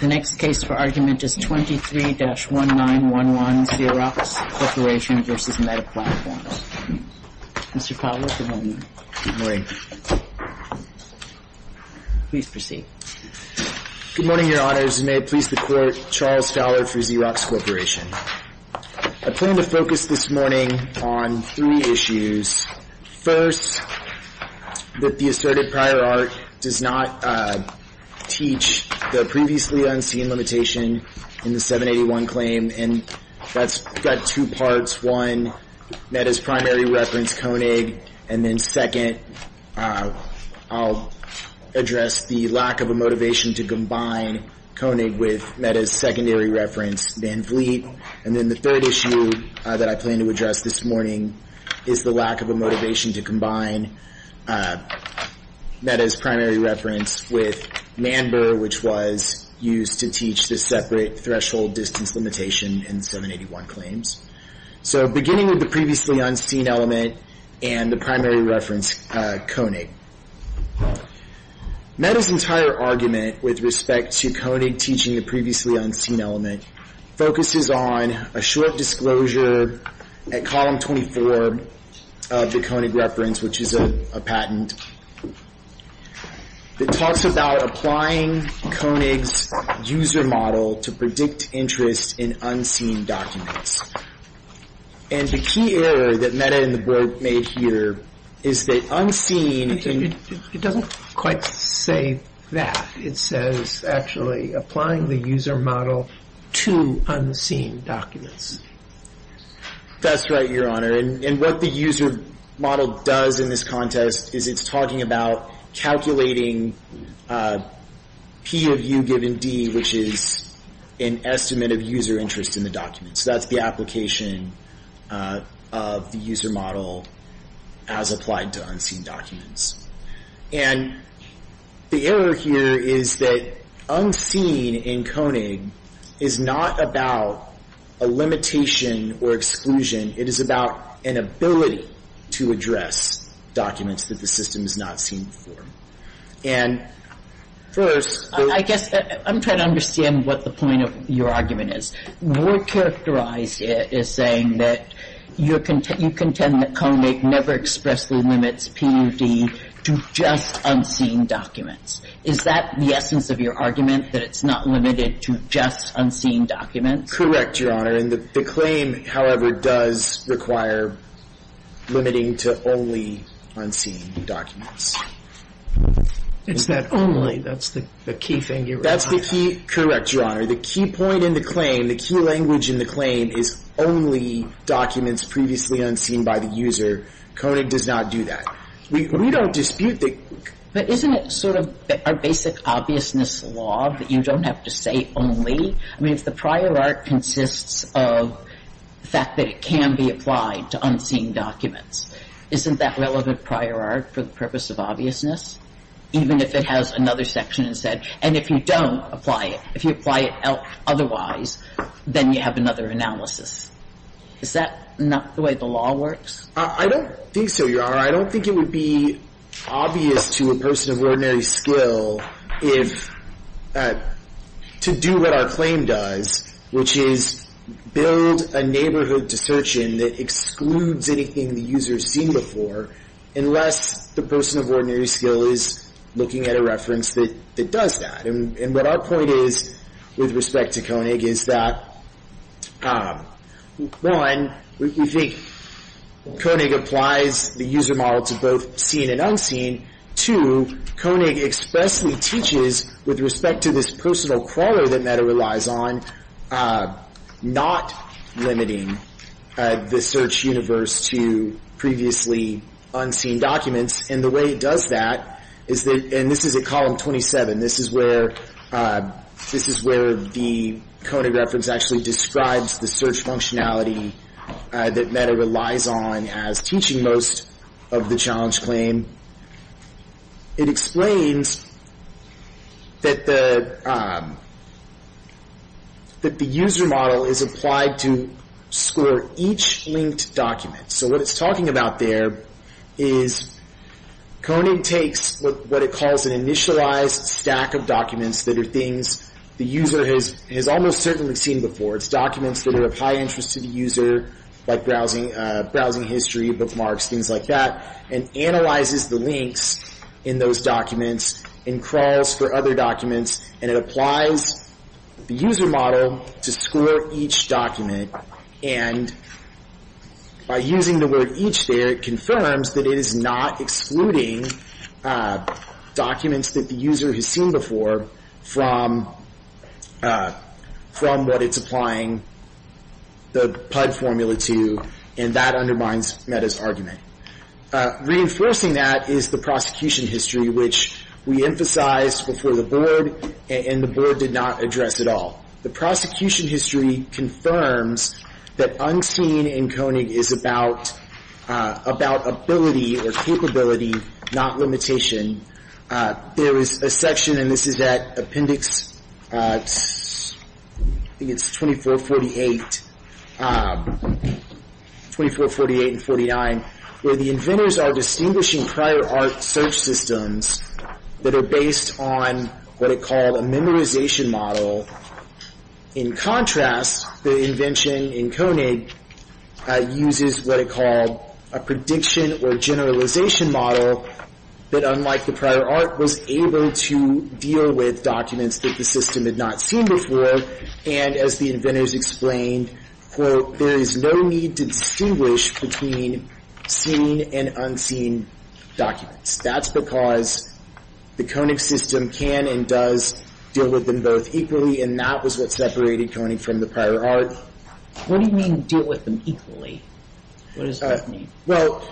The next case for argument is 23-1911, Xerox Corporation v. Meta Platforms. Mr. Fowler, good morning. Please proceed. Good morning, Your Honors. May it please the Court, Charles Fowler for Xerox Corporation. I plan to focus this morning on three issues. First, that the asserted prior art does not teach the previously unseen limitation in the 781 claim. And that's got two parts. One, Meta's primary reference, Koenig. And then second, I'll address the lack of a motivation to combine Koenig with Meta's secondary reference, Van Vliet. And then the third issue that I plan to address this morning is the lack of a motivation to combine Meta's primary reference with Manber, which was used to teach the separate threshold distance limitation in the 781 claims. So beginning with the previously unseen element and the primary reference, Koenig. Meta's entire argument with respect to Koenig teaching the previously unseen element focuses on a short disclosure at Column 24 of the Koenig reference, which is a patent that talks about applying Koenig's user model to predict interest in unseen documents. And the key error that Meta and the Broke made here is that unseen... It doesn't quite say that. It says actually applying the user model to unseen documents. That's right, Your Honor. And what the user model does in this contest is it's talking about calculating P of U given D, which is an estimate of user interest in the document. So that's the application of the user model as applied to unseen documents. And the error here is that unseen in Koenig is not about a limitation or exclusion. It is about an ability to address documents that the system has not seen before. And first... I guess I'm trying to understand what the point of your argument is. What characterizes it is saying that you contend that Koenig never expressly limits P of D to just unseen documents. Is that the essence of your argument, that it's not limited to just unseen documents? Correct, Your Honor. And the claim, however, does require limiting to only unseen documents. It's not only. That's the key thing you were talking about. That's the key... Correct, Your Honor. The key point in the claim, the key language in the claim is only documents previously unseen by the user. Koenig does not do that. We don't dispute the... But isn't it sort of our basic obviousness law that you don't have to say only? I mean, if the prior art consists of the fact that it can be applied to unseen documents, isn't that relevant prior art for the purpose of obviousness? Even if it has another section instead. And if you don't apply it, if you apply it otherwise, then you have another analysis. Is that not the way the law works? I don't think so, Your Honor. I don't think it would be obvious to a person of ordinary skill to do what our claim does, which is build a neighborhood to search in that excludes anything the user has seen before, unless the person of ordinary skill is looking at a reference that does that. And what our point is with respect to Koenig is that, one, we think Koenig applies the user model to both seen and unseen. Two, Koenig expressly teaches with respect to this personal crawler that Meta relies on, not limiting the search universe to previously unseen documents. And the way it does that is that, and this is at column 27, this is where the Koenig reference actually describes the search functionality that Meta relies on as teaching most of the challenge claim. It explains that the user model is applied to score each linked document. So what it's talking about there is Koenig takes what it calls an initialized stack of documents that are things the user has almost certainly seen before. It's documents that are of high interest to the user, like browsing history, bookmarks, things like that, and analyzes the links in those documents and crawls for other documents, and it applies the user model to score each document. And by using the word each there, it confirms that it is not excluding documents that the user has seen before from what it's applying the PUD formula to, and that undermines Meta's argument. Reinforcing that is the prosecution history, which we emphasized before the board, and the board did not address at all. The prosecution history confirms that unseen in Koenig is about ability or capability, not limitation. There is a section, and this is at appendix, I think it's 2448 and 49, where the inventors are distinguishing prior art search systems that are based on what it called a memorization model. In contrast, the invention in Koenig uses what it called a prediction or generalization model that unlike the prior art was able to deal with documents that the system had not seen before, and as the inventors explained, quote, there is no need to distinguish between seen and unseen documents. That's because the Koenig system can and does deal with them both equally, and that was what separated Koenig from the prior art. What do you mean deal with them equally? What does that mean? Well,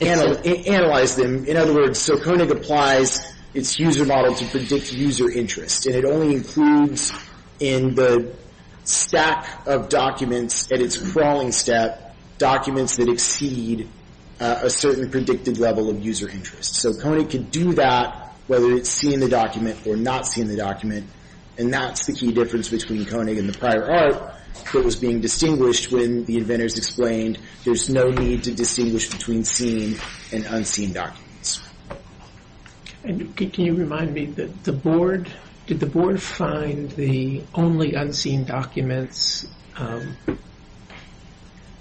analyze them. In other words, so Koenig applies its user model to predict user interest, and it only includes in the stack of documents at its crawling step documents that exceed a certain predicted level of user interest. So Koenig can do that whether it's seen in the document or not seen in the document, and that's the key difference between Koenig and the prior art that was being distinguished when the inventors explained there's no need to distinguish between seen and unseen documents. Can you remind me, did the board find the only unseen documents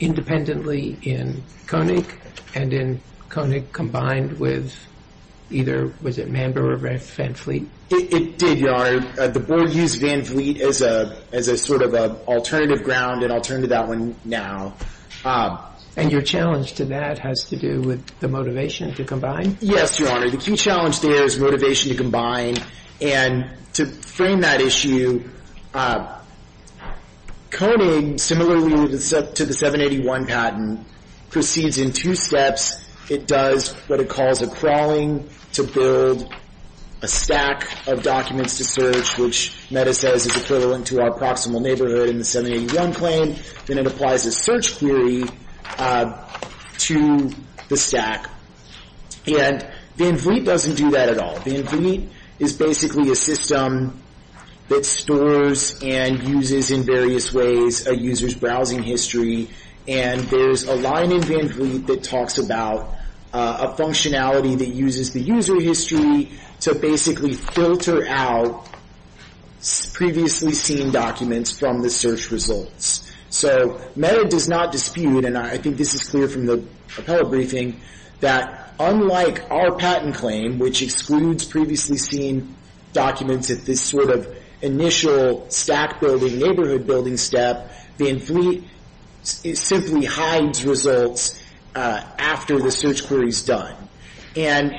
independently in Koenig and in Koenig combined with either, was it Mambo or Van Fleet? It did, Your Honor. The board used Van Fleet as a sort of alternative ground, and I'll turn to that one now. And your challenge to that has to do with the motivation to combine? Yes, Your Honor. The key challenge there is motivation to combine, and to frame that issue, Koenig, similarly to the 781 patent, proceeds in two steps. It does what it calls a crawling to build a stack of documents to search, which Meta says is equivalent to our proximal neighborhood in the 781 claim, and it applies a search query to the stack. And Van Fleet doesn't do that at all. Van Fleet is basically a system that stores and uses in various ways a user's browsing history, and there's a line in Van Fleet that talks about a functionality that uses the user history to basically filter out previously seen documents from the search results. So Meta does not dispute, and I think this is clear from the appellate briefing, that unlike our patent claim, which excludes previously seen documents at this sort of initial stack building, neighborhood building step, Van Fleet simply hides results after the search query is done. And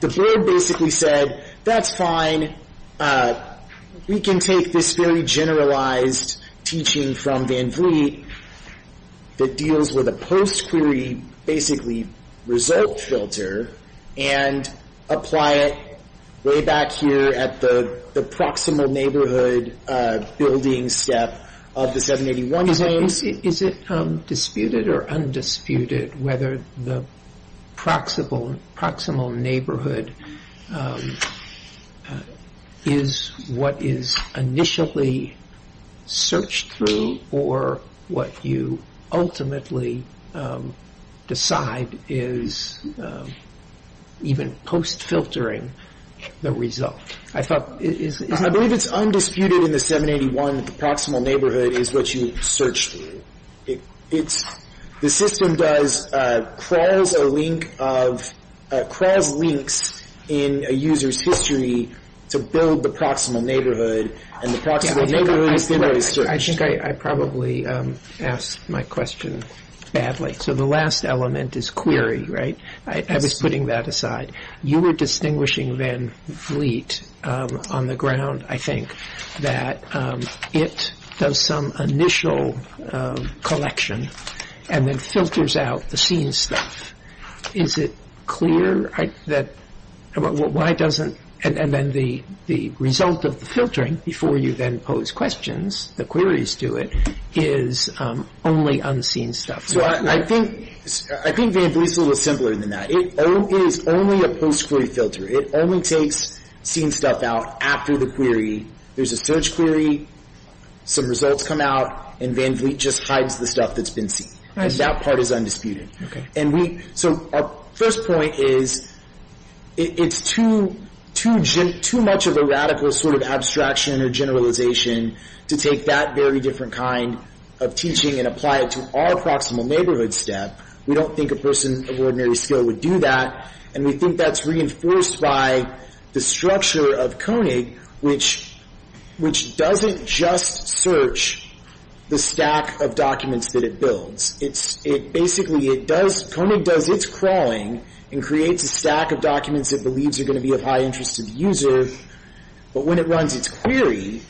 the board basically said, that's fine, we can take this very generalized teaching from Van Fleet that deals with a post-query basically result filter, and apply it way back here at the proximal neighborhood building step of the 781 claim. Is it disputed or undisputed whether the proximal neighborhood is what is initially searched through or what you ultimately decide is even post-filtering the result? I believe it's undisputed in the 781 that the proximal neighborhood is what you search through. The system crawls links in a user's history to build the proximal neighborhood, and the proximal neighborhood is then what is searched. I think I probably asked my question badly. So the last element is query, right? I was putting that aside. You were distinguishing Van Fleet on the ground, I think, that it does some initial collection and then filters out the seen stuff. Is it clear that, and then the result of the filtering before you then pose questions, the queries to it, is only unseen stuff. I think Van Fleet's a little simpler than that. It is only a post-query filter. It only takes seen stuff out after the query. There's a search query, some results come out, and Van Fleet just hides the stuff that's been seen. That part is undisputed. So our first point is it's too much of a radical sort of abstraction or generalization to take that very different kind of teaching and apply it to our proximal neighborhood step. We don't think a person of ordinary skill would do that, and we think that's reinforced by the structure of CONIG, which doesn't just search the stack of documents that it builds. Basically, CONIG does its crawling and creates a stack of documents it believes are going to be of high interest to the user, but when it runs its query,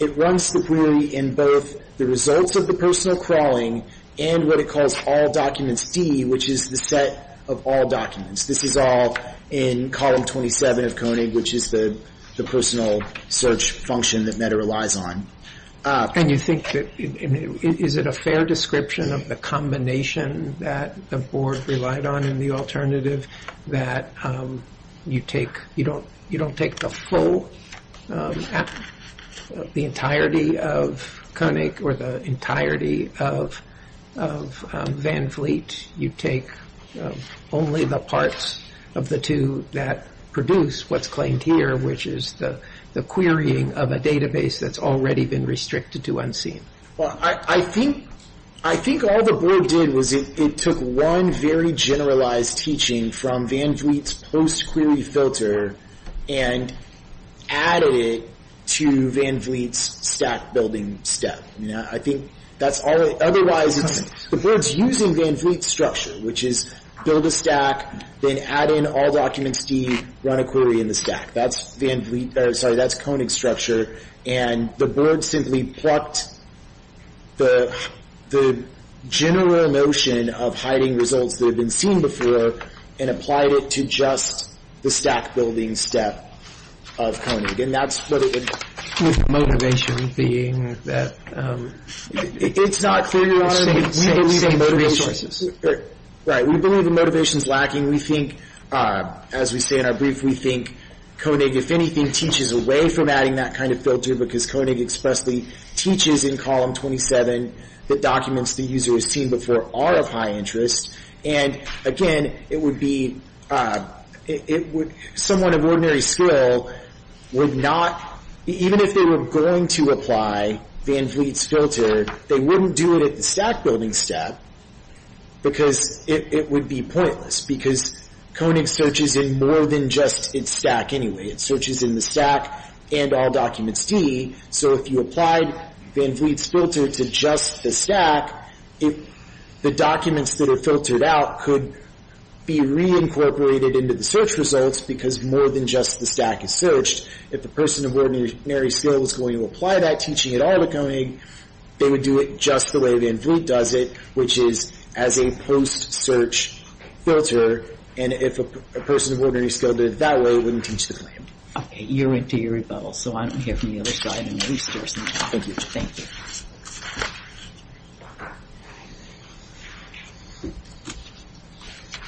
it runs the query in both the results of the personal crawling and what it calls all documents D, which is the set of all documents. This is all in column 27 of CONIG, which is the personal search function that Meta relies on. And you think that, is it a fair description of the combination that the board relied on in the alternative that you don't take the full, the entirety of CONIG or the entirety of Van Fleet, you take only the parts of the two that produce what's claimed here, which is the querying of a database that's already been restricted to unseen? I think all the board did was it took one very generalized teaching from Van Fleet's post-query filter and added it to Van Fleet's stack building step. I think that's all it, otherwise the board's using Van Fleet's structure, which is build a stack, then add in all documents D, run a query in the stack. That's Van Fleet, sorry, that's CONIG's structure. And the board simply plucked the general notion of hiding results that had been seen before and applied it to just the stack building step of CONIG. And that's what it would. With motivation being that. It's not clear, Your Honor. We believe the motivation. Right. We believe the motivation's lacking. We think, as we say in our brief, we think CONIG, if anything, teaches away from adding that kind of filter because CONIG expressly teaches in column 27 that documents the user has seen before are of high interest. And, again, it would be somewhat of ordinary skill would not, even if they were going to apply Van Fleet's filter, they wouldn't do it at the stack building step because it would be pointless because CONIG searches in more than just its stack anyway. It searches in the stack and all documents D. So if you applied Van Fleet's filter to just the stack, the documents that are filtered out could be reincorporated into the search results because more than just the stack is searched. If the person of ordinary skill was going to apply that teaching at all to CONIG, they would do it just the way Van Fleet does it, which is as a post-search filter, and if a person of ordinary skill did it that way, it wouldn't teach the claim. Okay. You're into eerie bubbles, so I'm going to hear from the other side. Thank you. Thank you.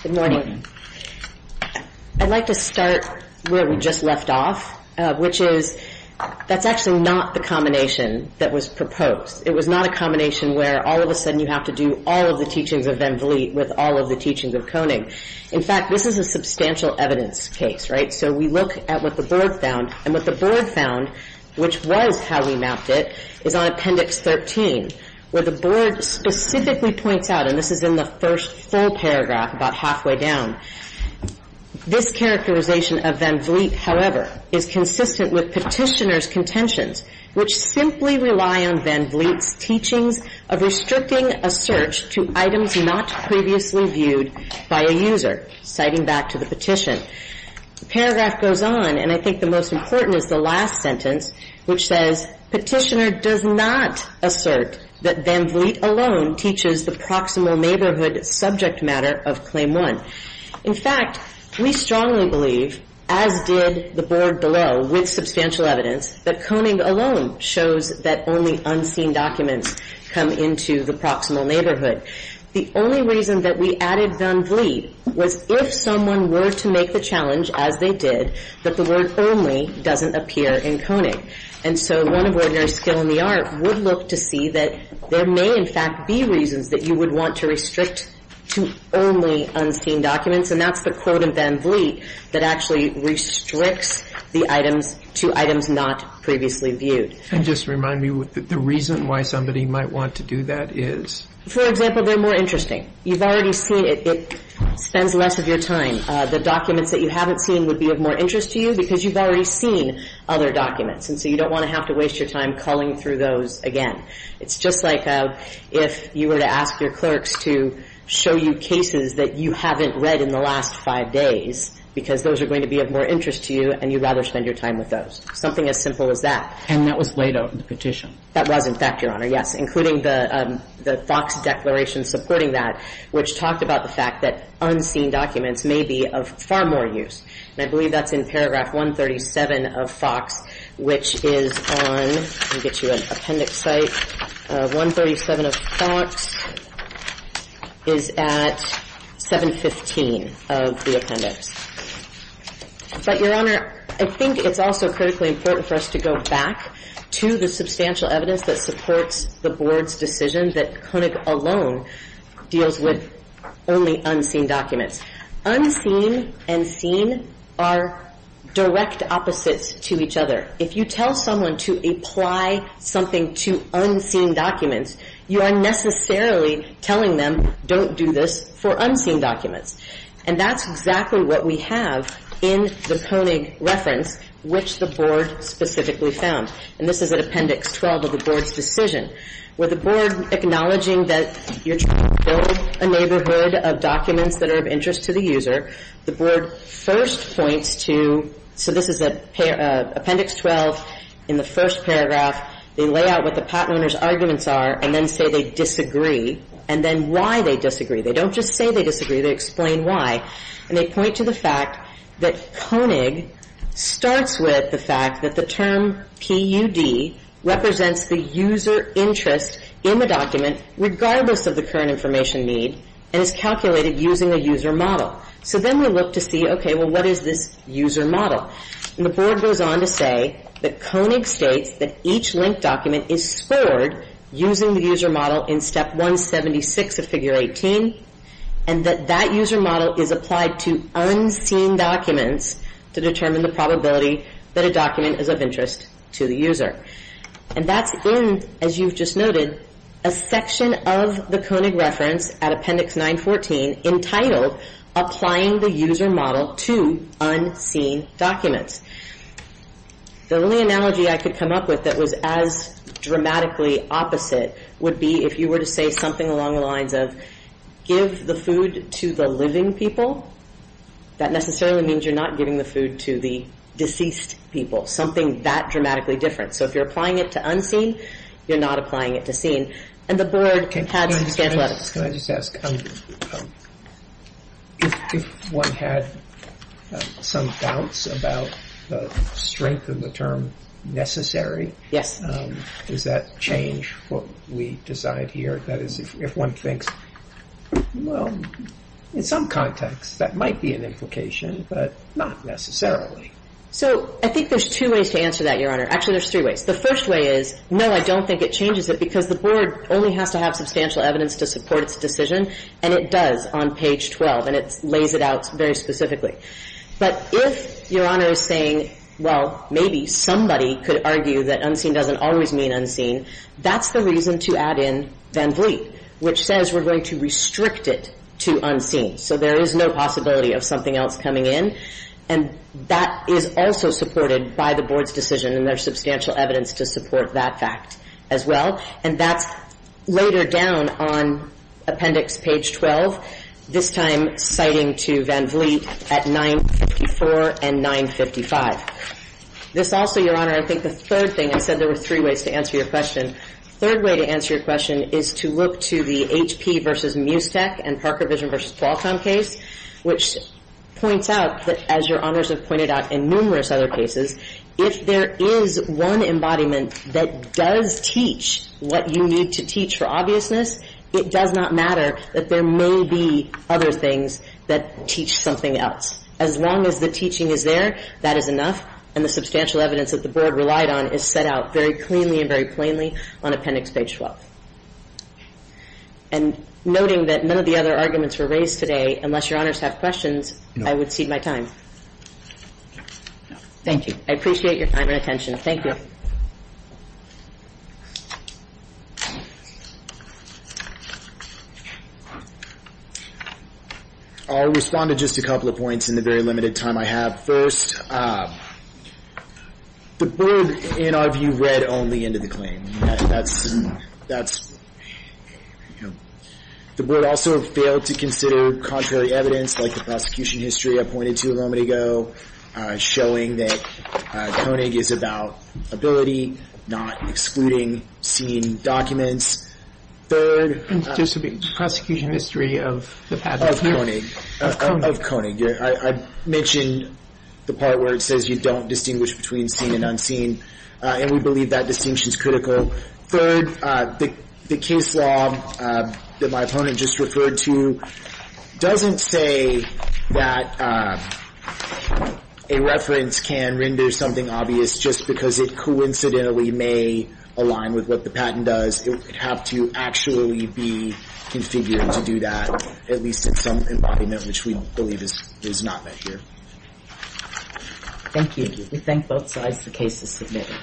Good morning. I'd like to start where we just left off, which is that's actually not the combination that was proposed. It was not a combination where all of a sudden you have to do all of the teachings of Van Fleet with all of the teachings of CONIG. In fact, this is a substantial evidence case, right? So we look at what the board found, and what the board found, which was how we mapped it, is on Appendix 13, where the board specifically points out, and this is in the first full paragraph about halfway down, this characterization of Van Fleet, however, is consistent with petitioner's contentions, which simply rely on Van Fleet's teachings of restricting a search to items not previously viewed by a user, citing back to the petition. The paragraph goes on, and I think the most important is the last sentence, which says, Petitioner does not assert that Van Fleet alone teaches the proximal neighborhood subject matter of Claim 1. In fact, we strongly believe, as did the board below with substantial evidence, that CONIG alone shows that only unseen documents come into the proximal neighborhood. The only reason that we added Van Fleet was if someone were to make the challenge, as they did, that the word only doesn't appear in CONIG. And so one of ordinary skill in the art would look to see that there may in fact be reasons that you would want to restrict to only unseen documents, and that's the quote of Van Fleet that actually restricts the items to items not previously viewed. And just remind me, the reason why somebody might want to do that is? For example, they're more interesting. You've already seen it. It spends less of your time. The documents that you haven't seen would be of more interest to you because you've already seen other documents, and so you don't want to have to waste your time culling through those again. It's just like if you were to ask your clerks to show you cases that you haven't read in the last five days because those are going to be of more interest to you, and you'd rather spend your time with those. Something as simple as that. And that was laid out in the petition? That was, in fact, Your Honor, yes, including the FOX declaration supporting that, which talked about the fact that unseen documents may be of far more use. And I believe that's in paragraph 137 of FOX, which is on, let me get you an appendix site, 137 of FOX is at 715 of the appendix. But, Your Honor, I think it's also critically important for us to go back to the substantial evidence that supports the Board's decision that Koenig alone deals with only unseen documents. Unseen and seen are direct opposites to each other. If you tell someone to apply something to unseen documents, you are necessarily telling them don't do this for unseen documents. And that's exactly what we have in the Koenig reference, which the Board specifically found. And this is at appendix 12 of the Board's decision, where the Board acknowledging that you're trying to build a neighborhood of documents that are of interest to the user, the Board first points to, so this is at appendix 12 in the first paragraph, they lay out what the patent owner's arguments are and then say they disagree, and then why they disagree. They don't just say they disagree. They explain why. And they point to the fact that Koenig starts with the fact that the term PUD represents the user interest in the document regardless of the current information need and is calculated using a user model. So then we look to see, okay, well, what is this user model? And the Board goes on to say that Koenig states that each linked document is scored using the user model in step 176 of figure 18 and that that user model is applied to unseen documents to determine the probability that a document is of interest to the user. And that's in, as you've just noted, a section of the Koenig reference at appendix 914 entitled Applying the User Model to Unseen Documents. The only analogy I could come up with that was as dramatically opposite would be if you were to say something along the lines of give the food to the living people, that necessarily means you're not giving the food to the deceased people, something that dramatically different. So if you're applying it to unseen, you're not applying it to seen. And the Board had some scant letters. Can I just ask, if one had some doubts about the strength of the term necessary, does that change what we decide here? That is, if one thinks, well, in some context, that might be an implication, but not necessarily. So I think there's two ways to answer that, Your Honor. Actually, there's three ways. The first way is, no, I don't think it changes it because the Board only has to have substantial evidence to support its decision, and it does on page 12, and it lays it out very specifically. But if Your Honor is saying, well, maybe somebody could argue that unseen doesn't always mean unseen, that's the reason to add in Van Vliet, which says we're going to restrict it to unseen. So there is no possibility of something else coming in. And that is also supported by the Board's decision, and there's substantial evidence to support that fact as well. And that's later down on appendix page 12, this time citing to Van Vliet at 954 and 955. This also, Your Honor, I think the third thing, I said there were three ways to answer your question. The third way to answer your question is to look to the HP v. Musetech and Parker Vision v. Qualcomm case, which points out that, as Your Honors have pointed out in numerous other cases, if there is one embodiment that does teach what you need to teach for obviousness, it does not matter that there may be other things that teach something else. As long as the teaching is there, that is enough, and the substantial evidence that the Board relied on is set out very cleanly and very plainly on appendix page 12. And noting that none of the other arguments were raised today, unless Your Honors have questions, I would cede my time. Thank you. I appreciate your time and attention. Thank you. I'll respond to just a couple of points in the very limited time I have. First, the Board, in our view, read only into the claim. The Board also failed to consider contrary evidence, like the prosecution history I pointed to a moment ago, showing that Koenig is about ability, not excluding seen documents. And just the prosecution history of the patent here. Of Koenig. Of Koenig. I mentioned the part where it says you don't distinguish between seen and unseen, and we believe that distinction is critical. Third, the case law that my opponent just referred to doesn't say that a reference can render something obvious just because it coincidentally may align with what the patent does. It would have to actually be configured to do that, at least in some embodiment, which we believe is not met here. Thank you. We thank both sides. The case is submitted.